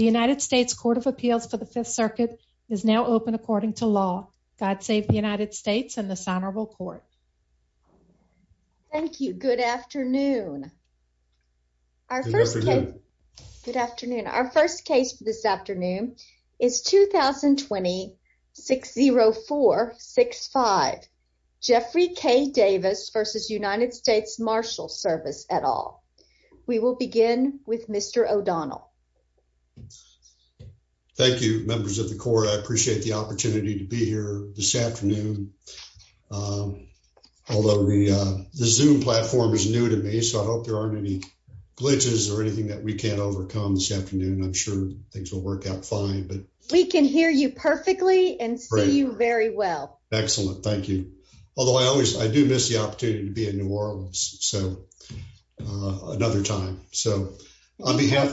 United States Court of Appeals for the Fifth Circuit is now open according to law. God save the United States and this honorable court. Thank you. Good afternoon. Good afternoon. Our first case for this afternoon is 2020-604-65 Jeffrey K. Davis v. United States Marshals Service et al. We will begin with Mr. O'Donnell. Thank you, members of the court. I appreciate the opportunity to be here this afternoon. Although the Zoom platform is new to me, so I hope there aren't any glitches or anything that we can't overcome this afternoon. I'm sure things will work out fine. We can hear you perfectly and see you very well. Excellent. Thank you. Although I do miss the opportunity to be in New Orleans another time. On behalf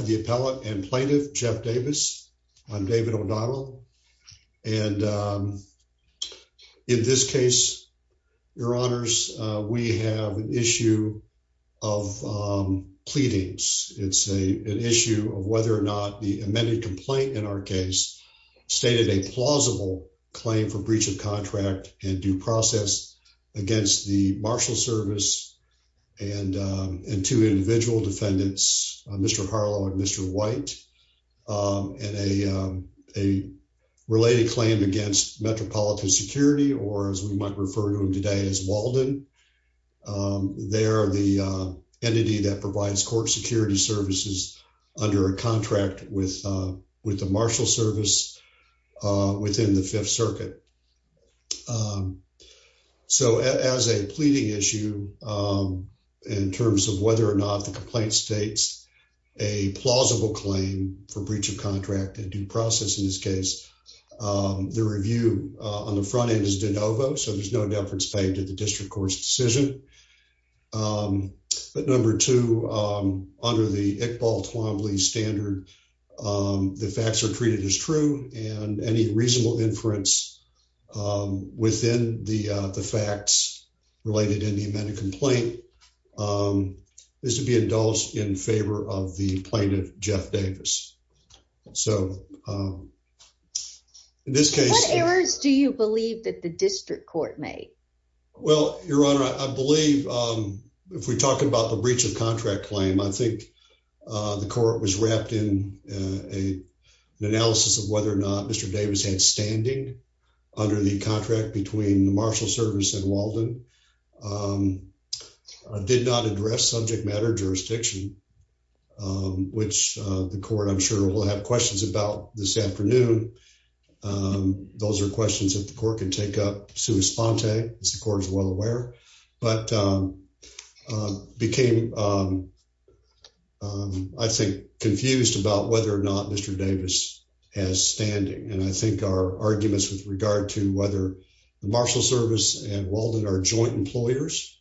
of the appellate and plaintiff, Jeff Davis, I'm David O'Donnell. In this case, your honors, we have an issue of pleadings. It's an issue of whether or not the amended complaint in our case stated a breach of contract and due process against the Marshals Service and two individual defendants, Mr. Harlow and Mr. White, and a related claim against Metropolitan Security or as we might refer to them today as Walden. They are the entity that provides court security services under a contract with the Marshals Service within the Fifth Circuit. So as a pleading issue in terms of whether or not the complaint states a plausible claim for breach of contract and due process in this case, the review on the front end is de novo, so there's no deference paid to the district court's decision. But number two, under the standard the facts are treated as true and any reasonable inference within the facts related in the amended complaint is to be indulged in favor of the plaintiff, Jeff Davis. What errors do you believe that the district court made? Well, your honor, I believe if we're talking about the breach of contract claim, I think the court was wrapped in an analysis of whether or not Mr. Davis had standing under the contract between the Marshals Service and Walden, did not address subject matter jurisdiction, which the court I'm sure will have questions about this afternoon. Those are questions that the court can take up as the court is well aware, but became I think confused about whether or not Mr. Davis has standing. And I think our arguments with regard to whether the Marshals Service and Walden are joint employers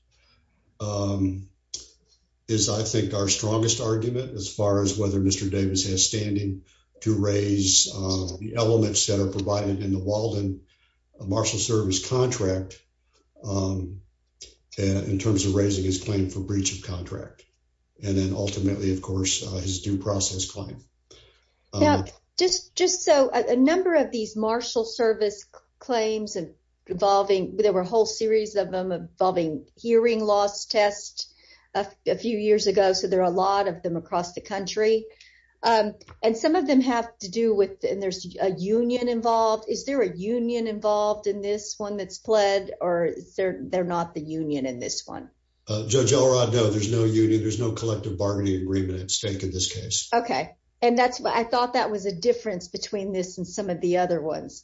is I think our strongest argument as far as whether Mr. Davis has standing to raise the elements that are provided in the Walden Marshal Service contract in terms of raising his claim for breach of contract. And then ultimately, of course, his due process claim. Now, just so a number of these Marshal Service claims and evolving, there were a whole series of them involving hearing loss test a few years ago, so there are a lot of them across the country. And some of them have to do with there's a union involved. Is there a union involved in this one that's pled or they're not the union in this one? Judge Elrod, no, there's no union. There's no collective bargaining agreement at stake in this case. Okay. And that's why I thought that was a difference between this and some of the other ones.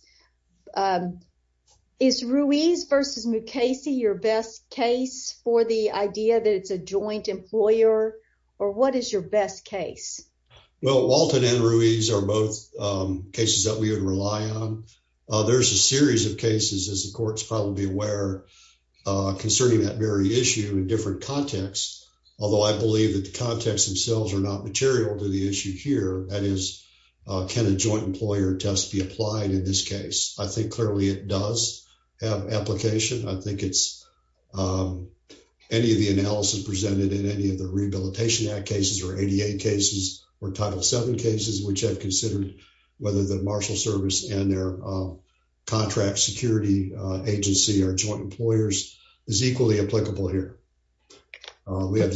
Is Ruiz versus Mukasey your best case for the idea that it's a joint employer or what is your best case? Well, Walton and Ruiz are both cases that we would rely on. There's a series of cases, as the court's probably aware, concerning that very issue in different contexts, although I believe that the context themselves are not material to the issue here. That is, can a joint employer test be applied in this case? I think clearly it does have application. I think any of the analysis presented in any of the Rehabilitation Act cases or ADA cases or Title VII cases, which have considered whether the marshal service and their contract security agency or joint employers is equally applicable here. Can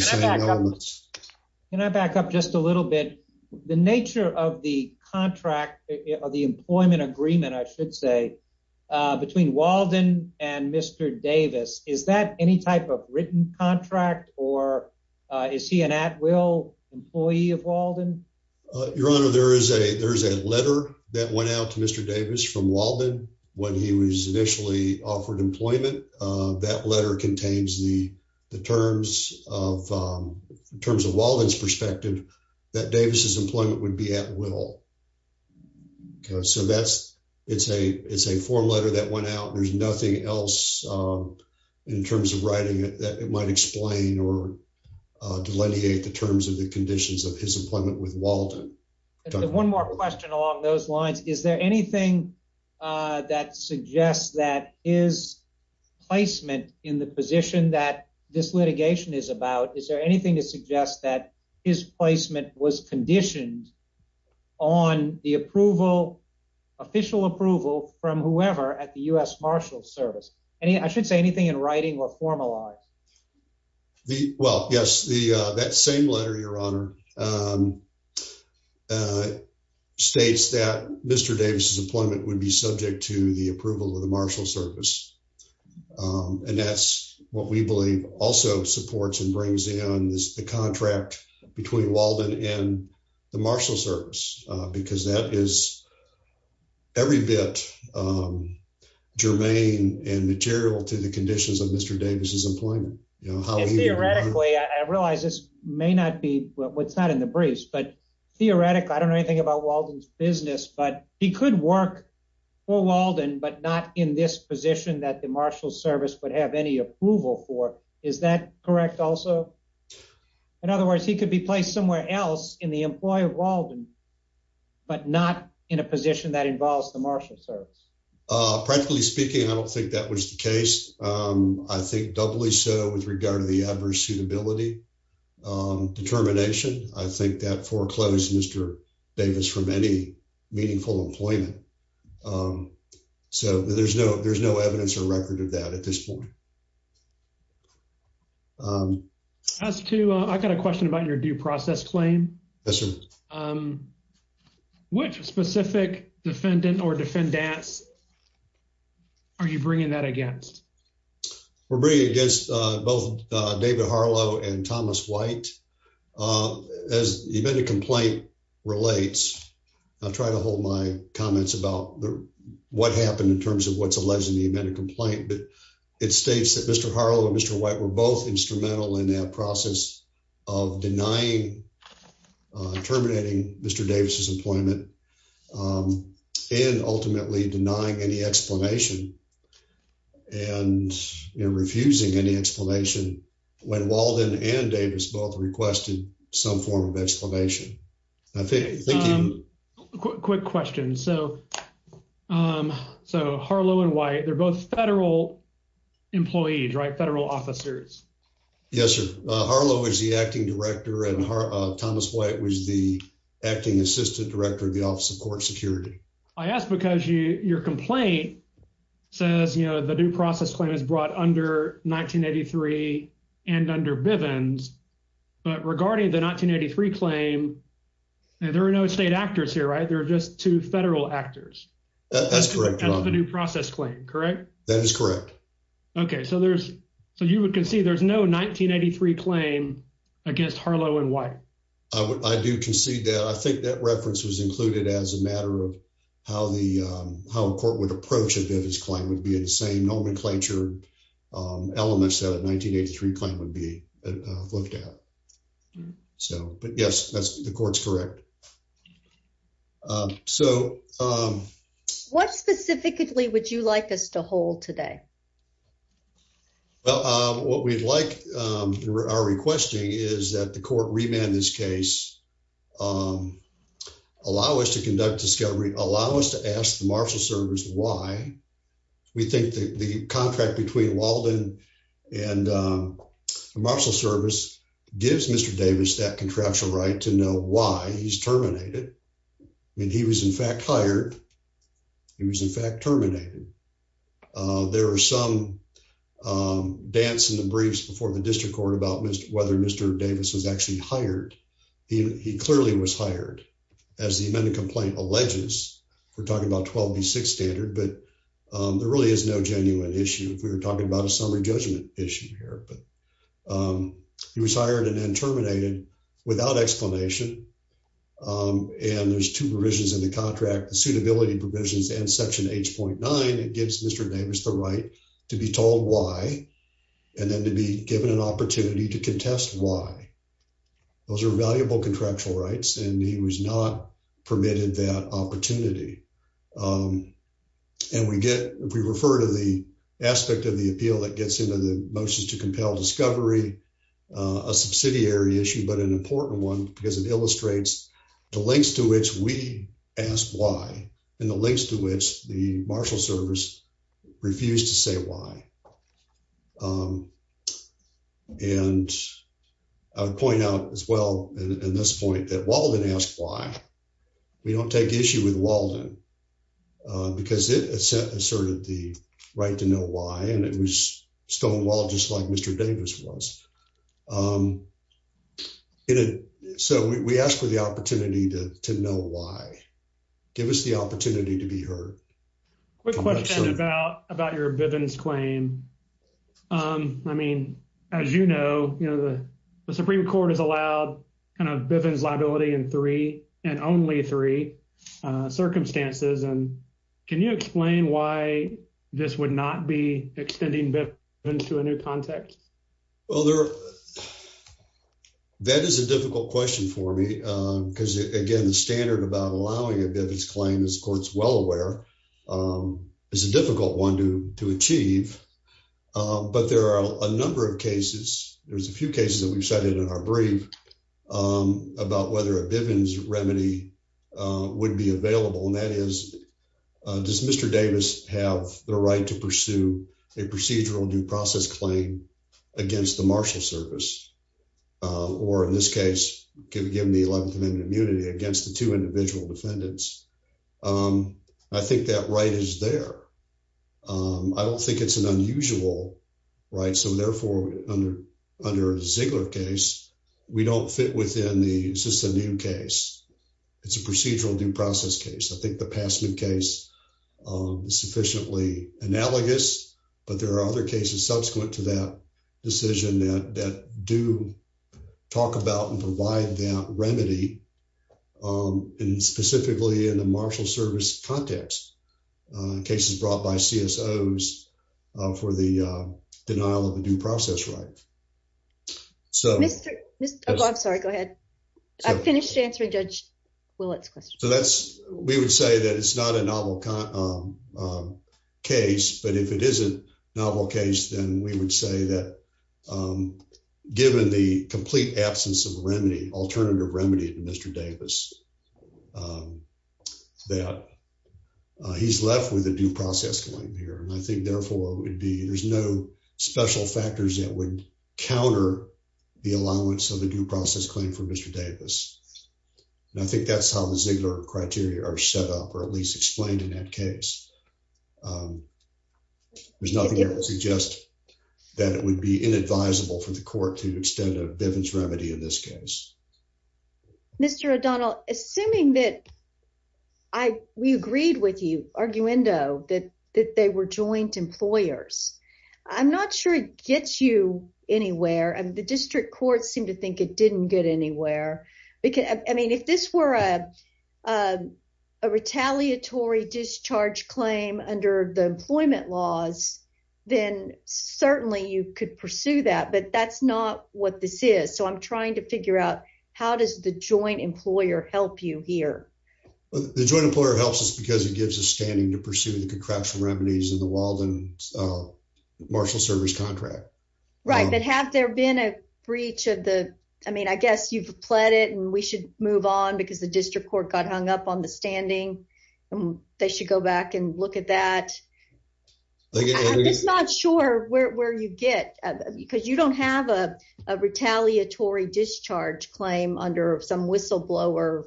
I back up just a little bit? The nature of the employment agreement, I should say, between Walden and Mr. Davis, is that any type of written contract or is he an at-will employee of Walden? Your Honor, there is a letter that went out to Mr. Davis from Walden when he was initially offered employment. That letter contains the terms of Walden's perspective that Davis's employment would be at will. It's a form letter that went out. There's nothing else in terms of writing that might explain or delineate the terms of the conditions of his employment with Walden. One more question along those lines. Is there anything that suggests that his placement in the position that this litigation is about, is there anything to suggest that his placement was conditioned on the official approval from whoever at the U.S. marshal service? I should say anything in writing or formalized. Well, yes, that same letter, Your Honor, states that Mr. Davis's employment would be subject to the approval of the marshal service. And that's what we believe also supports and brings in the contract between Walden and the marshal service, because that is every bit germane and material to the conditions of Mr. Davis's employment. Theoretically, I realize this may not be what's not in the briefs, but theoretically, I don't know anything about Walden's business, but he could work for Walden, but not in this position that the marshal service would have any approval for. Is that correct, also? In other words, he could be placed somewhere else in the employ of Walden, but not in a position that involves the marshal service. Practically speaking, I don't think that was the case. I think doubly so with regard to the adverse suitability determination. I think that foreclosed Mr. Davis from any meaningful employment. So there's no evidence or record of that at this point. I've got a question about your due process claim. Yes, sir. Which specific defendant or defendants are you bringing that against? We're bringing against both David Harlow and Thomas White. As the amended complaint relates, I'll try to hold my comments about what happened in terms of what's alleged in the amended complaint, but it states that Mr. Harlow and Mr. White were both instrumental in that process of denying, terminating Mr. Davis's employment, and ultimately denying any explanation. And refusing any explanation when Walden and Davis both requested some form of explanation. Quick question. So Harlow and White, they're both federal employees, right? Federal officers. Yes, sir. Harlow is the acting director and Thomas White was the acting assistant director of the Office of Court Security. I ask because your complaint says the due process claim is brought under 1983 and under Bivens, but regarding the 1983 claim, there are no state actors here, right? There are just two federal actors. That's correct. That's the due process claim, correct? That is correct. Okay. So you would concede there's no 1983 claim against Harlow and White? I do concede that. I think that reference was included as a matter of how a court would approach a Bivens claim would be the same nomenclature elements that a 1983 claim would be looked at. But yes, the court's correct. What specifically would you like us to hold today? Well, what we'd like, our requesting is that the court remand this case, allow us to conduct discovery, allow us to ask the marshal service why. We think the contract between Walden and the marshal service gives Mr. Davis that contractual right to know why he's terminated. There are some dance in the briefs before the district court about whether Mr. Davis was actually hired. He clearly was hired. As the amendment complaint alleges, we're talking about 12B6 standard, but there really is no genuine issue. We were talking about a summary judgment issue here, but he was hired and then terminated without explanation. And there's two provisions in the contract, the suitability provisions and section 8.9, it gives Mr. Davis the right to be told why, and then to be given an opportunity to contest why. Those are valuable contractual rights, and he was not permitted that opportunity. And we refer to the aspect of the appeal that gets into the motions to compel discovery, a subsidiary issue, but an important one because it illustrates the lengths to which we ask why, and the lengths to which the marshal service refused to say why. And I would point out as well in this point that Walden asked why. We don't take issue with Walden because it asserted the right to know why, and it was stonewalled just like Mr. Davis was. And so, we ask for the opportunity to know why. Give us the opportunity to be heard. Quick question about your Bivens claim. I mean, as you know, the Supreme Court has allowed kind of Bivens liability in three and only three circumstances, and can you explain why this would not be extending Bivens to a new context? Well, that is a difficult question for me because, again, the standard about allowing a Bivens claim, as the Court's well aware, is a difficult one to achieve, but there are a number of cases. There's a few cases that we've cited in our brief about whether a Bivens remedy would be available, and that is, does Mr. Davis have the right to pursue a procedural due process claim against the marshal service, or in this case, given the 11th Amendment immunity, against the two individual defendants? I think that right is there. I don't think it's an unusual right, so therefore, under a Ziegler case, we don't fit within the, is this a new case? It's a procedural due process case. I think the Passman case is sufficiently analogous, but there are other cases subsequent to that decision that do talk about and provide that remedy, and specifically in the marshal service context, cases brought by CSOs for the denial of a due process right. I'm sorry, go ahead. I finished answering Judge Willett's question. So that's, we would say that it's not a novel case, but if it is a novel case, then we would say that given the complete absence of remedy, alternative remedy to Mr. Davis, that he's left with a due process claim here, and I think, therefore, it would be, there's no special factors that would counter the allowance of a due process claim for Mr. Davis, and I think that's how the Ziegler criteria are set up, or at least explained in that case. There's nothing that would suggest that it would be inadvisable for the court to extend a Bivens remedy in this case. Mr. O'Donnell, assuming that I, we agreed with you, arguendo, that they were joint employers, I'm not sure it gets you anywhere, and the district courts seem to think it didn't get anywhere, because, I mean, if this were a retaliatory discharge claim under the employment laws, then certainly you could pursue that, but that's not what this is, so I'm trying to figure out how does the joint employer help you here. The joint employer helps us because it gives us standing to pursue the contraption remedies in the Walden marshal service contract. Right, but have there been a breach of the, I mean, I guess you've pled it, and we should move on because the district court got hung up on the standing, and they should go back and look at that. I'm just not sure where you get, because you don't have a retaliatory discharge claim under some whistleblower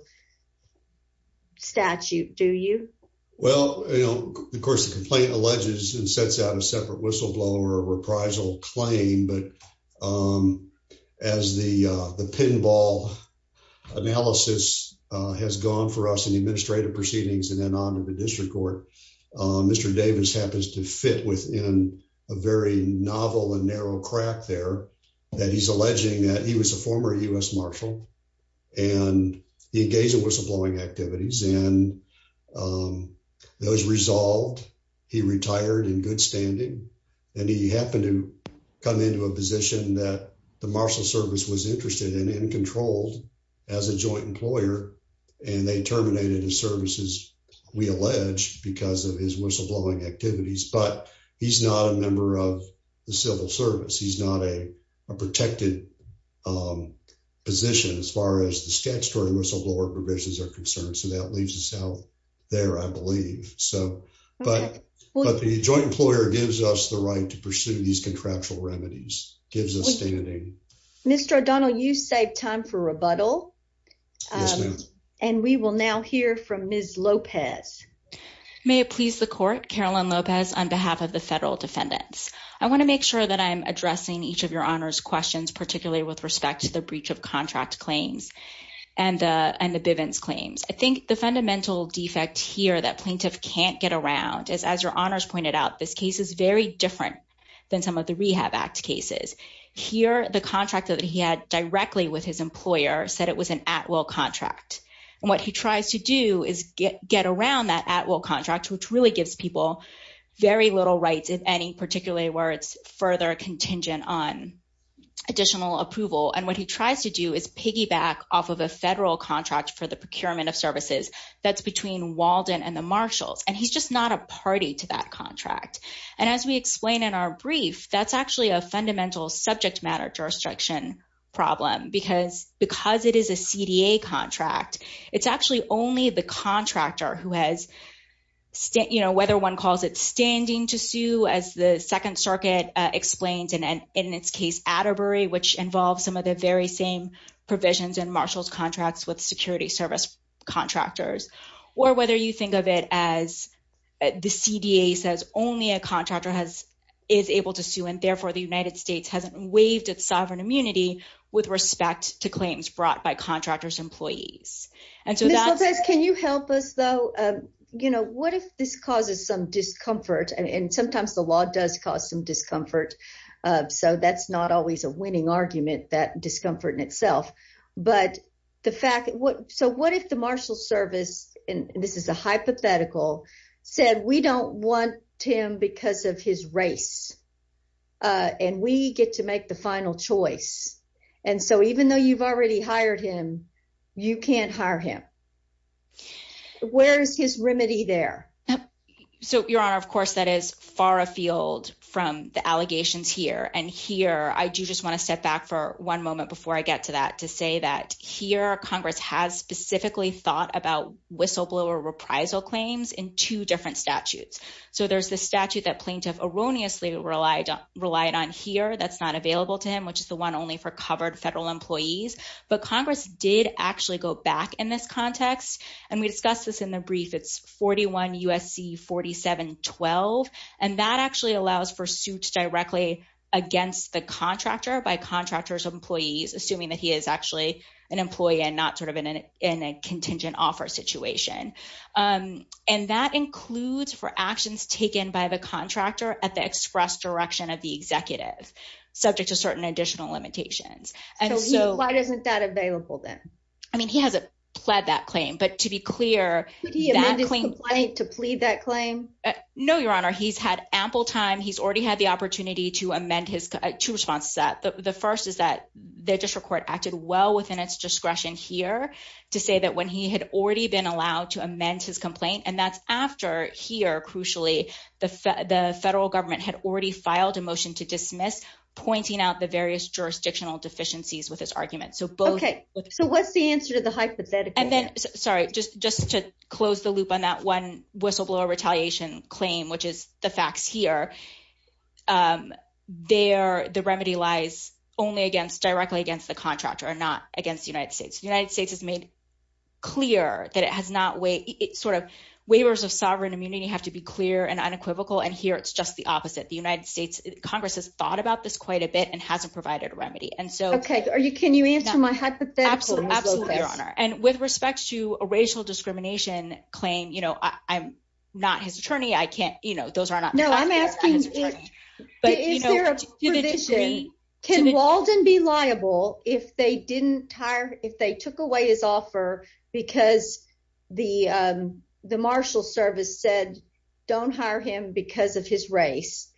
statute, do you? Well, you know, of course, the complaint alleges and sets out a separate whistleblower reprisal claim, but as the pinball analysis has gone for us in the administrative proceedings and then on to the district court, Mr. Davis happens to fit within a very novel and narrow crack there that he's alleging that he was a former U.S. marshal, and he engaged in whistleblowing activities, and that was resolved. He retired in good standing, and he happened to come into a position that the marshal service was interested in and controlled as a joint employer, and they terminated his services, we allege, because of his whistleblowing activities, but he's not a member of the civil service. He's not a protected position as far as the statutory whistleblower provisions are concerned, so that leaves us out there, I believe. But the joint employer gives us the right to pursue these contractual remedies, gives us standing. Mr. O'Donnell, you saved time for rebuttal, and we will now hear from Ms. Lopez. May it please the court, Carolyn Lopez on behalf of the federal defendants. I want to make sure that I'm addressing each of your honors questions, particularly with respect to the breach of contract claims and the Bivens claims. I think the fundamental defect here that plaintiff can't get around is, as your honors pointed out, this case is very different than some of the Rehab Act cases. Here, the contract that he had directly with his employer said it was an at-will contract, and what he tries to do is get around that at-will contract, which really gives people very little rights, if any, particularly where it's further contingent on additional approval, and what he tries to do is piggyback off of a federal contract for the procurement of services that's between Walden and the Marshals, and he's just not a party to that contract. And as we explain in our brief, that's actually a fundamental subject matter jurisdiction problem, because it is a CDA contract, it's actually only the contractor who has, whether one calls it standing to sue, as the Second Circuit explains, and in its case, Atterbury, which involves some of the very same provisions in Marshals contracts with security service contractors, or whether you think of it as the CDA says only a contractor is able to sue, and therefore the United States hasn't waived its sovereign immunity with respect to claims brought by contractor's employees. And so that's- Ms. Lopez, can you help us, though? What if this causes some discomfort, and sometimes the law does cause some discomfort, so that's not always a winning argument, that discomfort in itself, but the fact, so what if the Marshals Service, and this is a hypothetical, said, we don't want him because of his race, and we get to make the final choice, and so even though you've already hired him, you can't hire him. Where's his remedy there? So, Your Honor, of course, that is far afield from the allegations here, and here, I do just want to step back for one moment before I get to that, to say that here, Congress has specifically thought about whistleblower reprisal claims in two different statutes. So there's the statute that plaintiff erroneously relied on here that's not available to him, which is the one only for covered federal employees, but Congress did actually go back in this context, and we discussed this in the brief. It's 41 U.S.C. 4712, and that actually allows for suits directly against the contractor by contractors of employees, assuming that he is actually an employee and not sort of in a contingent offer situation, and that includes for actions taken by the contractor at the express direction of the executive, subject to certain additional limitations. So why isn't that available then? I mean, he hasn't pled that claim, but to be clear, could he amend his complaint to plead that claim? No, Your Honor, he's had ample time. He's already had the opportunity to amend his two responses that the first is that the district court acted well within its discretion here to say that when he had already been allowed to amend his complaint, and that's after here, crucially, the federal government had already filed a motion to dismiss, pointing out the various jurisdictional deficiencies with his argument. So both... Okay, so what's the answer to the hypothetical? And then, sorry, just to close the loop on that one whistleblower retaliation claim, which is the facts here, the remedy lies only directly against the contractor, not against the United States. The United States has made clear that it has not... sort of waivers of sovereign immunity have to be clear and unequivocal, and here it's just the opposite. The United States Congress has thought about this quite a bit and hasn't provided a remedy. Okay, can you answer my hypothetical? Absolutely, Your Honor, and with respect to a racial discrimination claim, you know, I'm not his attorney, but is there a provision... Can Walden be liable if they didn't hire, if they took away his offer because the marshal service said don't hire him because of his race,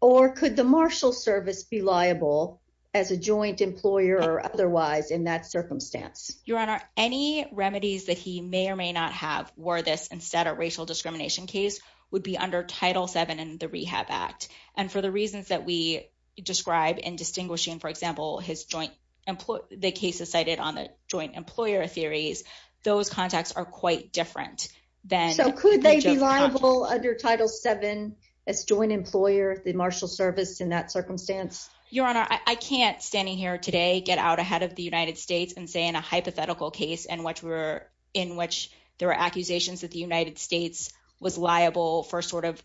or could the marshal service be liable as a joint employer or otherwise in that circumstance? Your Honor, any remedies that he may or may not have were this instead of racial discrimination case would be under Title VII in the Rehab Act, and for the reasons that we describe in distinguishing, for example, his joint employee... the cases cited on the joint employer theories, those contexts are quite different than... So could they be liable under Title VII as joint employer, the marshal service in that circumstance? Your Honor, I can't standing here today get out ahead of the United States and say in a hypothetical case in which we're... in which there are accusations that the United States was liable for sort of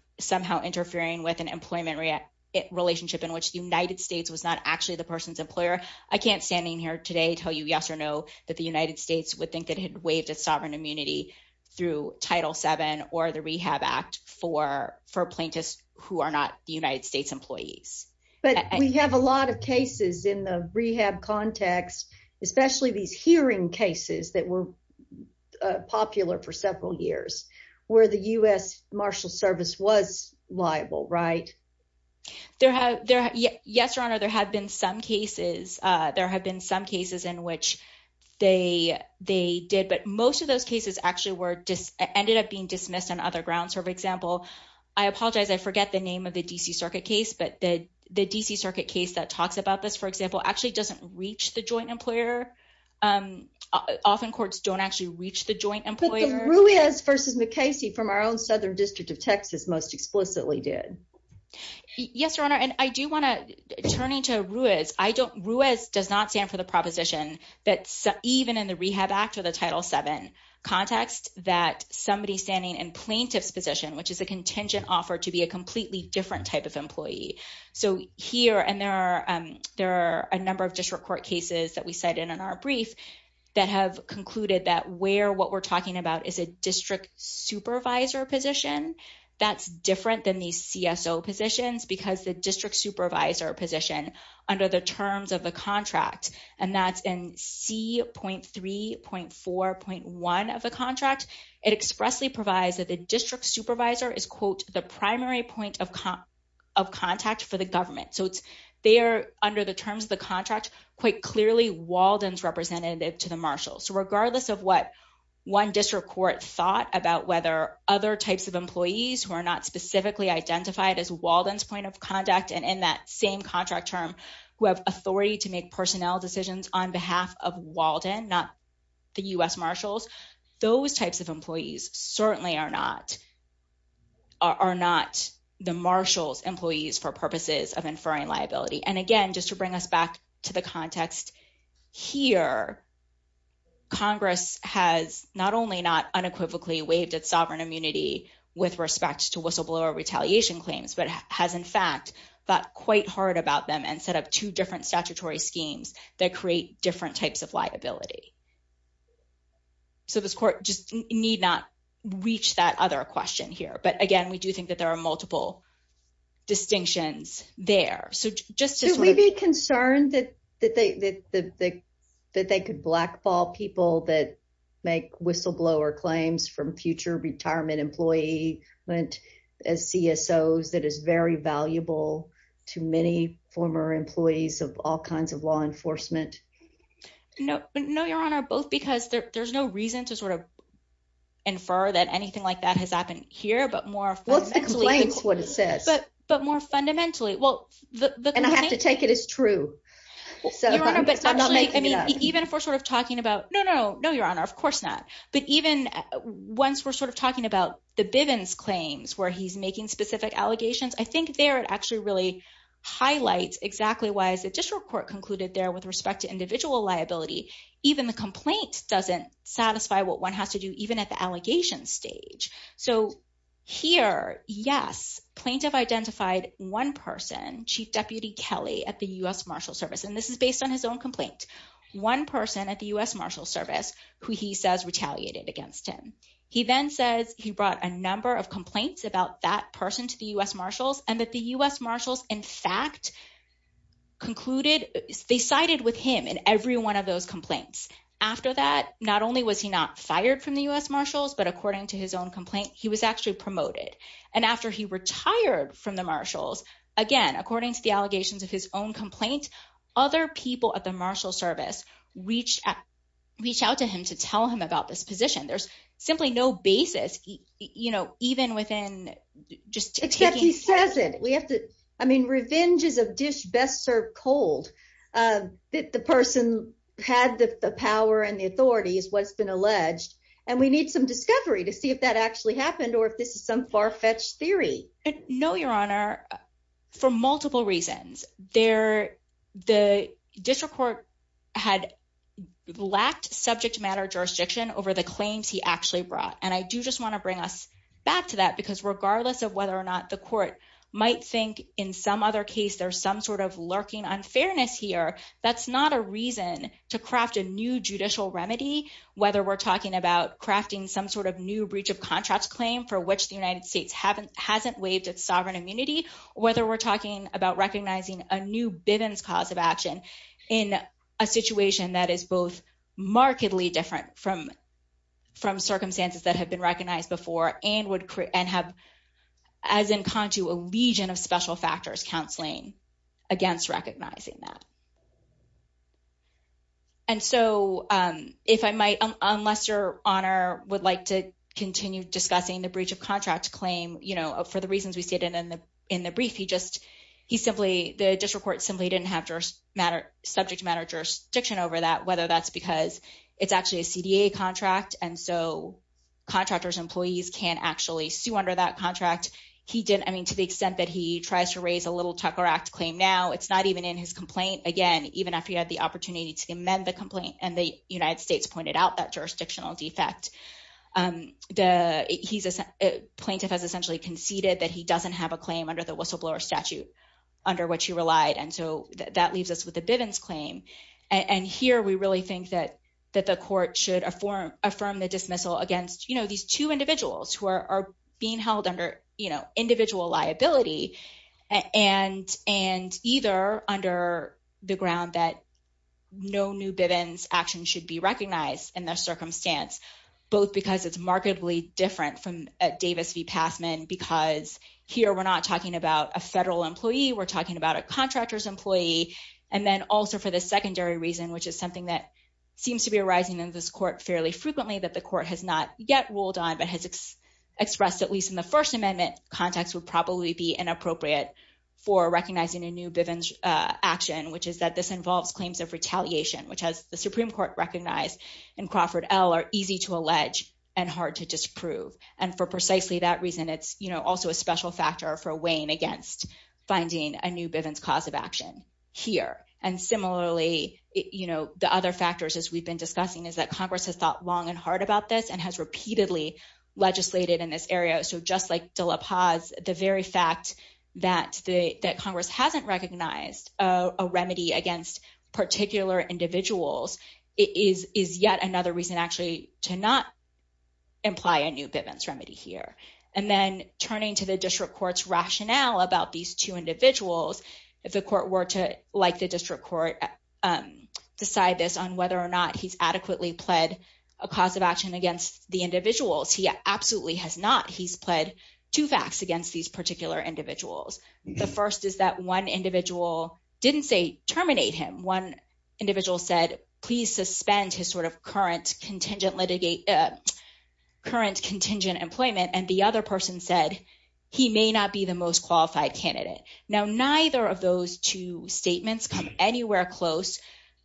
interfering with an employment relationship in which the United States was not actually the person's employer. I can't standing here today tell you yes or no that the United States would think that had waived its sovereign immunity through Title VII or the Rehab Act for plaintiffs who are not the United States employees. But we have a lot of cases in the rehab context, especially these hearing cases that were popular for several years where the U.S. marshal service was liable, right? Yes, Your Honor, there have been some cases... there have been some cases in which they did, but most of those cases actually were just... ended up being dismissed on other grounds. For example, I apologize, I forget the name of the D.C. Circuit case, but the D.C. Circuit case that talks about this, for example, actually doesn't reach the joint employer. Often courts don't actually reach the joint employer. But the Ruiz v. McCasey from our own Southern District of Texas most explicitly did. Yes, Your Honor, and I do want to... turning to Ruiz, I don't... Ruiz does not stand for the proposition that even in the Rehab Act or the Title VII context that somebody standing in plaintiff's position, which is a contingent offer to be a completely different type of employee. So here, and there are a number of district court cases that we cited in our brief that have concluded that where what we're talking about is a district supervisor position, that's different than these CSO positions because the district supervisor position under the terms of the contract, and that's in C.3.4.1 of the contract, it expressly provides that the district supervisor is, quote, the primary point of contact for the government. So it's there under the terms of the contract, quite clearly Walden's representative to the marshal. So regardless of what one district court thought about whether other types of employees who are not specifically identified as Walden's point of contact, and in that same contract term, who have authority to make personnel decisions on behalf of Walden, not the U.S. marshals, those types of employees certainly are not the marshal's employees for purposes of inferring liability. And again, just to bring us back to the context here, Congress has not only not unequivocally waived its sovereign immunity with respect to whistleblower retaliation claims, but has in fact thought quite hard about them and set up two different statutory schemes that create different types of liability. So this court just need not reach that other question here. But again, we do think that there are multiple distinctions there. Should we be concerned that they could blackball people that make whistleblower claims from future retirement employee as CSOs that is very valuable to many former employees of all kinds of law enforcement? No, your honor, both because there's no reason to sort of but more fundamentally. And I have to take it as true. Even if we're sort of talking about, no, no, no, your honor, of course not. But even once we're sort of talking about the Bivens claims where he's making specific allegations, I think there it actually really highlights exactly why as the district court concluded there with respect to individual liability, even the complaint doesn't satisfy what one has to do even at the allegation stage. So here, yes, plaintiff identified one person, Chief Deputy Kelly at the U.S. Marshal Service. And this is based on his own complaint. One person at the U.S. Marshal Service who he says retaliated against him. He then says he brought a number of complaints about that person to the U.S. Marshals and that the U.S. Marshals in fact concluded they sided with him in every one of his own complaints. He was actually promoted. And after he retired from the marshals, again, according to the allegations of his own complaint, other people at the marshal service reach out to him to tell him about this position. There's simply no basis, you know, even within just taking. He says it. We have to I mean, revenge is a dish best served cold. The person had the power and the authority is what's been alleged. And we need some discovery to see if that actually happened or if this is some far fetched theory. No, your honor. For multiple reasons there, the district court had lacked subject matter jurisdiction over the claims he actually brought. And I do just want to bring us back to that, because regardless of whether or not the court might think in some other case, there's some sort of lurking unfairness here. That's not a reason to craft a new judicial remedy, whether we're talking about crafting some sort of new breach of contracts claim for which the United States haven't hasn't waived its sovereign immunity, whether we're talking about recognizing a new Bivens cause of action in a situation that is both markedly different from from circumstances that have been recognized before and would and have, as in contu, a legion of special factors counseling against recognizing that. And so if I might, unless your honor would like to continue discussing the breach of contract claim, you know, for the reasons we stated in the in the brief, he just he simply the district court simply didn't have to matter subject matter jurisdiction over that, whether that's because it's actually a CDA contract. And so contractors, employees can actually sue under that contract. He didn't. I mean, to the extent that he tries to raise a little Tucker Act claim now, it's not even in his complaint again, even after he had the opportunity to amend the complaint. And the United States pointed out that jurisdictional defect. The plaintiff has essentially conceded that he doesn't have a claim under the whistleblower statute under which he relied. And so that leaves us with the Bivens claim. And here we really think that that the court should affirm, affirm the dismissal against these two individuals who are being held under individual liability and and either under the ground that no new Bivens action should be recognized in their circumstance, both because it's markedly different from Davis v. Passman, because here we're not talking about a federal employee. We're talking about a contractor's employee. And then also for the secondary reason, which is something that seems to be arising in this court fairly frequently that the court has not yet ruled on, but has expressed at least in the First Amendment that it would absolutely be inappropriate for recognizing a new Bivens action, which is that this involves claims of retaliation, which has the Supreme Court recognized in Crawford L are easy to allege and hard to disprove. And for precisely that reason, it's also a special factor for weighing against finding a new Bivens cause of action here. And similarly, the other factors, as we've been discussing, is that Congress has thought long and hard about this and has repeatedly legislated in this area. So just like De La Paz, the very fact that Congress hasn't recognized a remedy against particular individuals is yet another reason actually to not imply a new Bivens remedy here. And then turning to the district court's rationale about these two individuals, if the court were to, like the district court, decide this on whether or not he's adequately pled a cause of action against the individuals, he absolutely has not. He's pled two facts against these particular individuals. The first is that one individual didn't say terminate him. One individual said, please suspend his sort of current contingent employment. And the other person said, he may not be the most qualified candidate. Now, neither of those two statements come anywhere close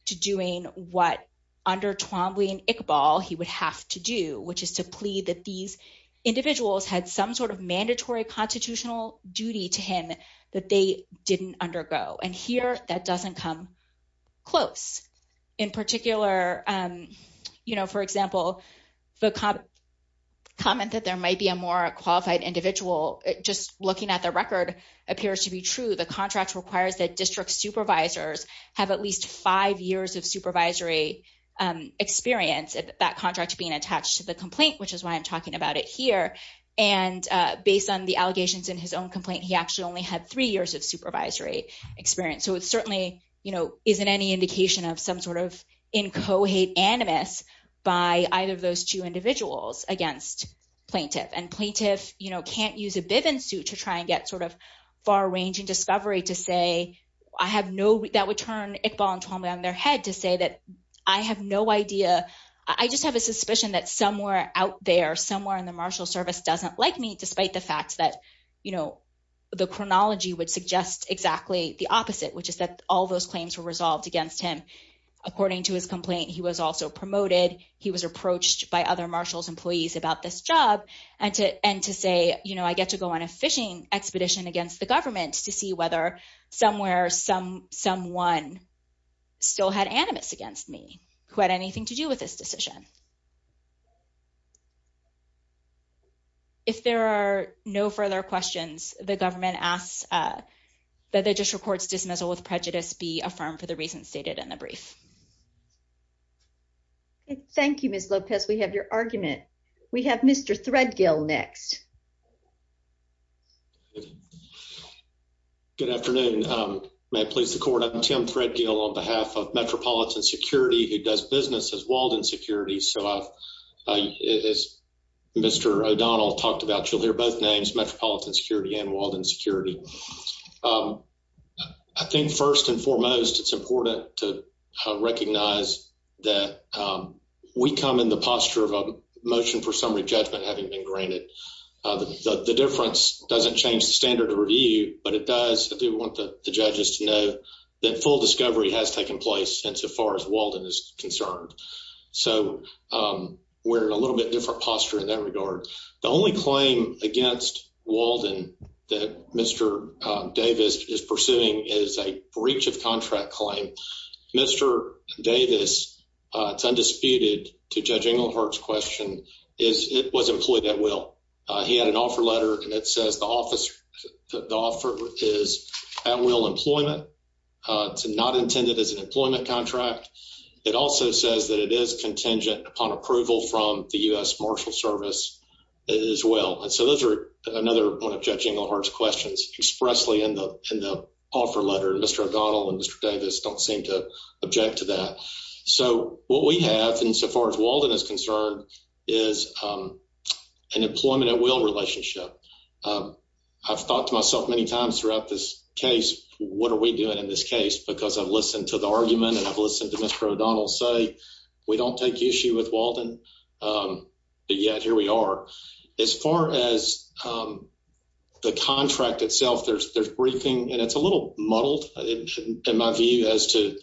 to doing what under Twombly and Iqbal he would have to do, which is to plead that these individuals had some sort of mandatory constitutional duty to him that they didn't undergo. And here, that doesn't come close. In particular, you know, for example, the comment that there might be a more qualified individual, just looking at the record, appears to be true. The contract requires that district supervisors have at least five years of supervisory experience at that contract being attached to the complaint, which is why I'm talking about it here. And based on the allegations in his own complaint, he actually only had three years of supervisory experience. So it certainly, you know, isn't any indication of some sort of in co-hate animus by either of those two individuals against plaintiff. And plaintiff, you know, can't use a Bivens suit to try and get sort of far-ranging discovery to say, I have no, that would turn Iqbal and Twombly on their head to say that I have no idea. I just have a suspicion that somewhere out there, somewhere in the marshal service doesn't like me, despite the fact that, you know, the chronology would suggest exactly the opposite, which is that all those claims were resolved against him. According to his complaint, he was also promoted. He was approached by other marshals employees about this job and to, and to say, you know, I get to go on a fishing expedition against the government to see whether somewhere, some, someone still had animus against me who had anything to do with this decision. If there are no further questions, the government asks that the district court's dismissal with prejudice be affirmed for the reasons stated in the brief. Thank you, Ms. Lopez. We have your argument. We have Mr. Threadgill next. Good afternoon. May it please the court. I'm Tim Threadgill on behalf of Metropolitan Security, who does business as Walden Security. So I've, as Mr. O'Donnell talked about, you'll hear both names, Metropolitan Security and Walden Security. Um, I think first and foremost, it's important to recognize that we come in the posture of a motion for summary judgment having been granted. The difference doesn't change the standard of review, but it does. I do want the judges to know that full discovery has taken place and so far as Walden is concerned. So, um, we're in a little bit different posture in that regard. The only claim against Walden that Mr. Davis is pursuing is a breach of contract claim. Mr. Davis, it's undisputed to Judge Englehart's question, is it was employed at will. He had an offer letter and it says the office, the offer is at will employment. It's not intended as an employment contract. It also says that it is contingent upon approval from the U.S. Marshal Service as well. And so those are another one of Judge Englehart's questions expressly in the, in the offer letter. Mr. O'Donnell and Mr. Davis don't seem to object to that. So what we have, and so far as Walden is concerned, is, um, an employment at will relationship. I've thought to myself many times throughout this case, what are we doing in this case? Because I've listened to the argument and I've listened to Mr. O'Donnell say we don't take issue with As far as, um, the contract itself, there's, there's briefing and it's a little muddled in my view as to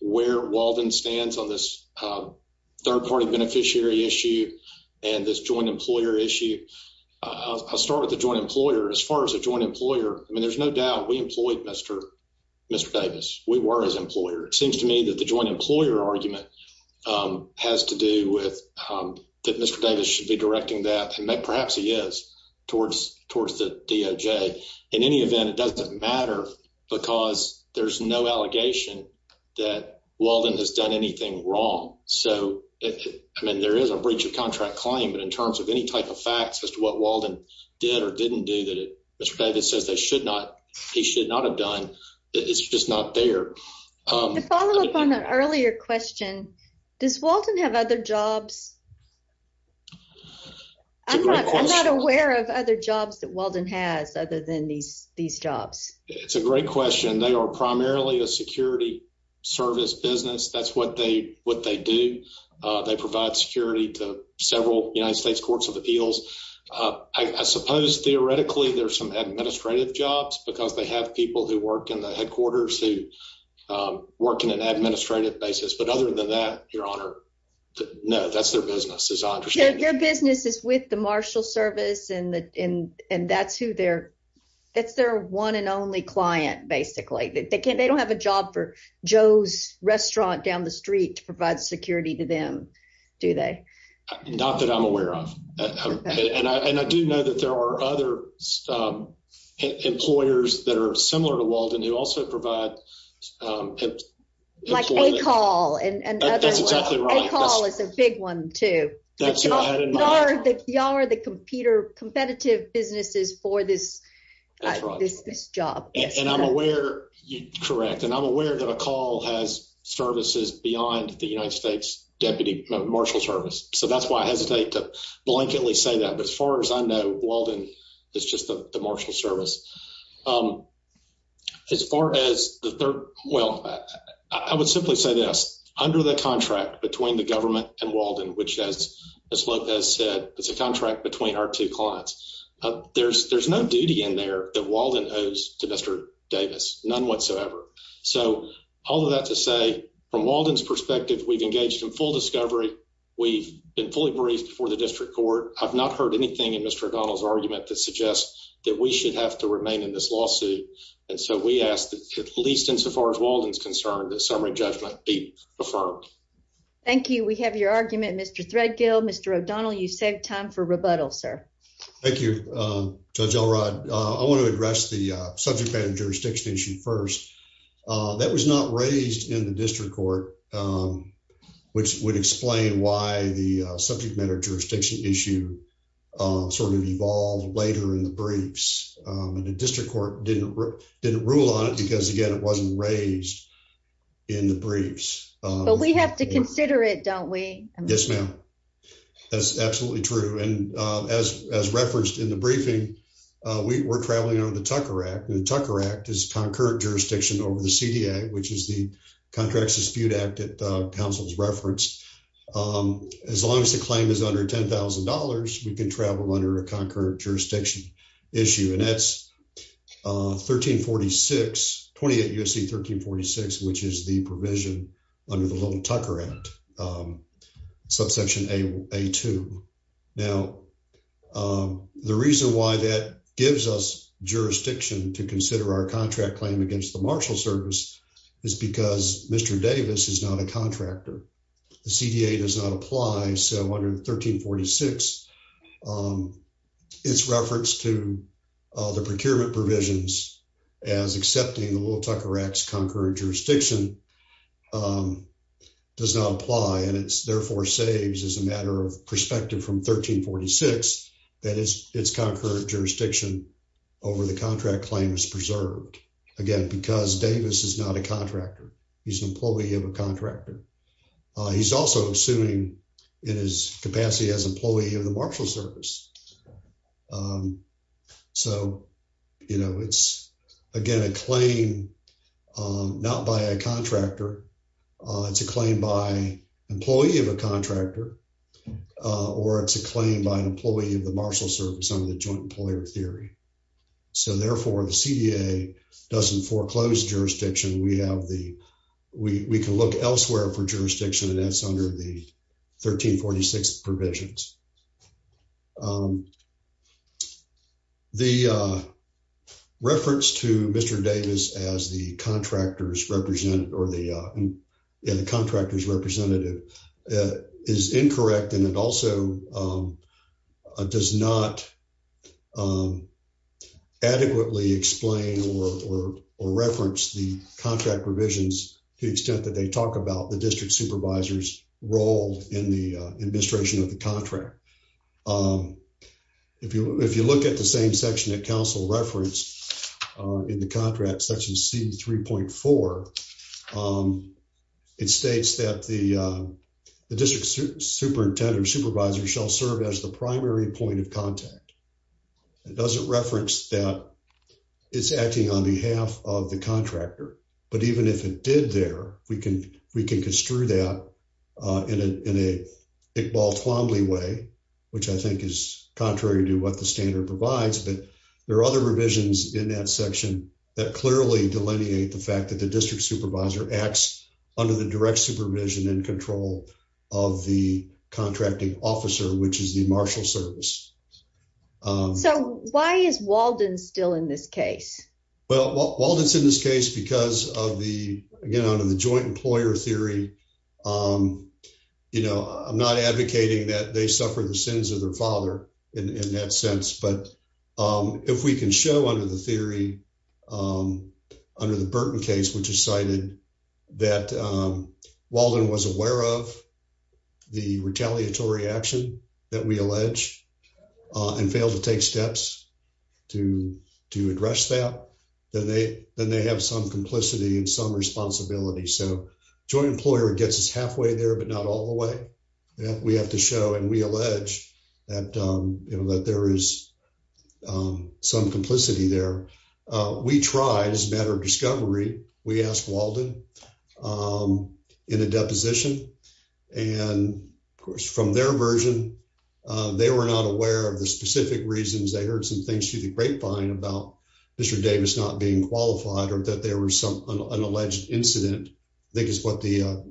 where Walden stands on this, um, third party beneficiary issue and this joint employer issue. I'll start with the joint employer. As far as a joint employer, I mean, there's no doubt we employed Mr. Davis. We were his employer. It seems to me that the perhaps he is towards, towards the DOJ. In any event, it doesn't matter because there's no allegation that Walden has done anything wrong. So, I mean, there is a breach of contract claim, but in terms of any type of facts as to what Walden did or didn't do that Mr. Davis says they should not, he should not have done, it's just not there. To follow up on that earlier question, does Walden have other jobs? I'm not, I'm not aware of other jobs that Walden has other than these, these jobs. It's a great question. They are primarily a security service business. That's what they, what they do. They provide security to several United States Courts of Appeals. I suppose, theoretically, there's some administrative jobs because they have people who work in the headquarters who work in an administrative basis. But other than that, Your Honor, no, that's their business as I understand it. Their business is with the marshal service and that's who they're, that's their one and only client basically. They can't, they don't have a job for Joe's restaurant down the street to provide security to them, do they? Not that I'm aware of. And I do know that there are other employers that are similar to Walden who also provide. Like A-Call. That's exactly right. A-Call is a big one too. Y'all are the competitor, competitive businesses for this, this job. And I'm aware, correct, and I'm aware that A-Call has services beyond the United States Deputy Marshal Service. So that's why I hesitate to blanketly say that. But as far as I know, Walden is just the marshal service. Um, as far as the third, well, I would simply say this under the contract between the government and Walden, which has, as Lopez said, it's a contract between our two clients. There's, there's no duty in there that Walden owes to Mr. Davis, none whatsoever. So all of that to say, from Walden's perspective, we've engaged in full discovery. We've been fully briefed before the district court. I've not heard anything in Mr. O'Donnell's that we should have to remain in this lawsuit. And so we ask that, at least insofar as Walden's concerned, that summary judgment be affirmed. Thank you. We have your argument, Mr. Threadgill. Mr. O'Donnell, you save time for rebuttal, sir. Thank you, Judge Elrod. I want to address the subject matter jurisdiction issue first. That was not raised in the district court, which would explain why the subject matter jurisdiction issue sort of evolved later in the briefs. And the district court didn't rule on it because, again, it wasn't raised in the briefs. But we have to consider it, don't we? Yes, ma'am. That's absolutely true. And as referenced in the briefing, we're traveling under the Tucker Act, and the Tucker Act is concurrent jurisdiction over the CDA, which is the under $10,000, we can travel under a concurrent jurisdiction issue. And that's 1346, 28 U.S.C. 1346, which is the provision under the little Tucker Act, subsection A2. Now, the reason why that gives us jurisdiction to consider our contract claim against the Marshal Service is because Mr. Davis is not a contractor. The CDA does not apply, so under 1346, its reference to the procurement provisions as accepting the little Tucker Act's concurrent jurisdiction does not apply. And it therefore saves, as a matter of perspective from 1346, that its concurrent jurisdiction over the contract claim is preserved. Again, because Davis is not a contractor. He's an employee of a contractor. He's also assuming in his capacity as employee of the Marshal Service. So, you know, it's, again, a claim not by a contractor. It's a claim by employee of a contractor, or it's a claim by an employee of the Marshal Service under the we can look elsewhere for jurisdiction, and that's under the 1346 provisions. The reference to Mr. Davis as the contractor's representative is incorrect, and it also does not adequately explain or reference the contract revisions to the extent that they talk about the district supervisor's role in the administration of the contract. If you look at the same section that council referenced in the contract, section C3.4, it states that the district superintendent or supervisor shall serve as the primary point of contact. It doesn't reference that it's acting on behalf of the contractor, but even if it did there, we can construe that in an Iqbal-Twomley way, which I think is contrary to what the standard provides, but there are other revisions in that section that clearly delineate the fact the district supervisor acts under the direct supervision and control of the contracting officer, which is the Marshal Service. So, why is Walden still in this case? Well, Walden's in this case because of the, again, under the joint employer theory, you know, I'm not advocating that they suffer the sins of their father in that sense, but if we can show under the theory, under the Burton case, which is cited, that Walden was aware of the retaliatory action that we allege and failed to take steps to address that, then they have some complicity and some responsibility. So, joint employer gets us halfway there, but not all the way. We have to show and we allege that, you know, that there is some complicity there. We tried, as a matter of discovery, we asked Walden in a deposition and, of course, from their version, they were not aware of the specific reasons. They heard some things through the grapevine about Mr. Davis not being qualified or that there was some unalleged incident, I think is what the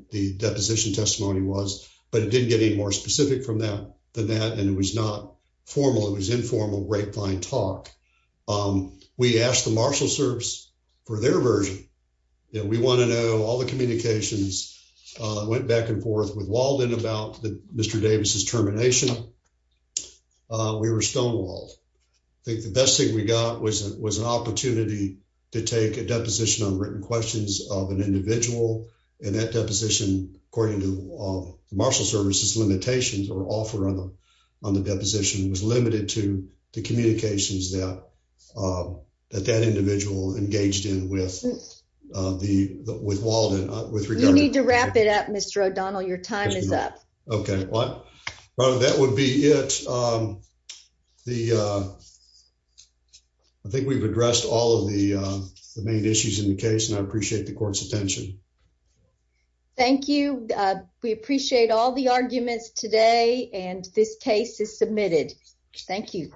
but it didn't get any more specific from that than that and it was not formal. It was informal grapevine talk. We asked the marshal service for their version. We want to know all the communications went back and forth with Walden about Mr. Davis's termination. We were stonewalled. I think the best thing we got was an opportunity to take a deposition on written questions of an limitations or offer on the deposition was limited to the communications that that individual engaged in with Walden. You need to wrap it up, Mr. O'Donnell. Your time is up. Okay. Well, that would be it. I think we've addressed all of the main issues in the case and I appreciate the court's attention. Thank you. We appreciate all the arguments today and this case is submitted. Thank you.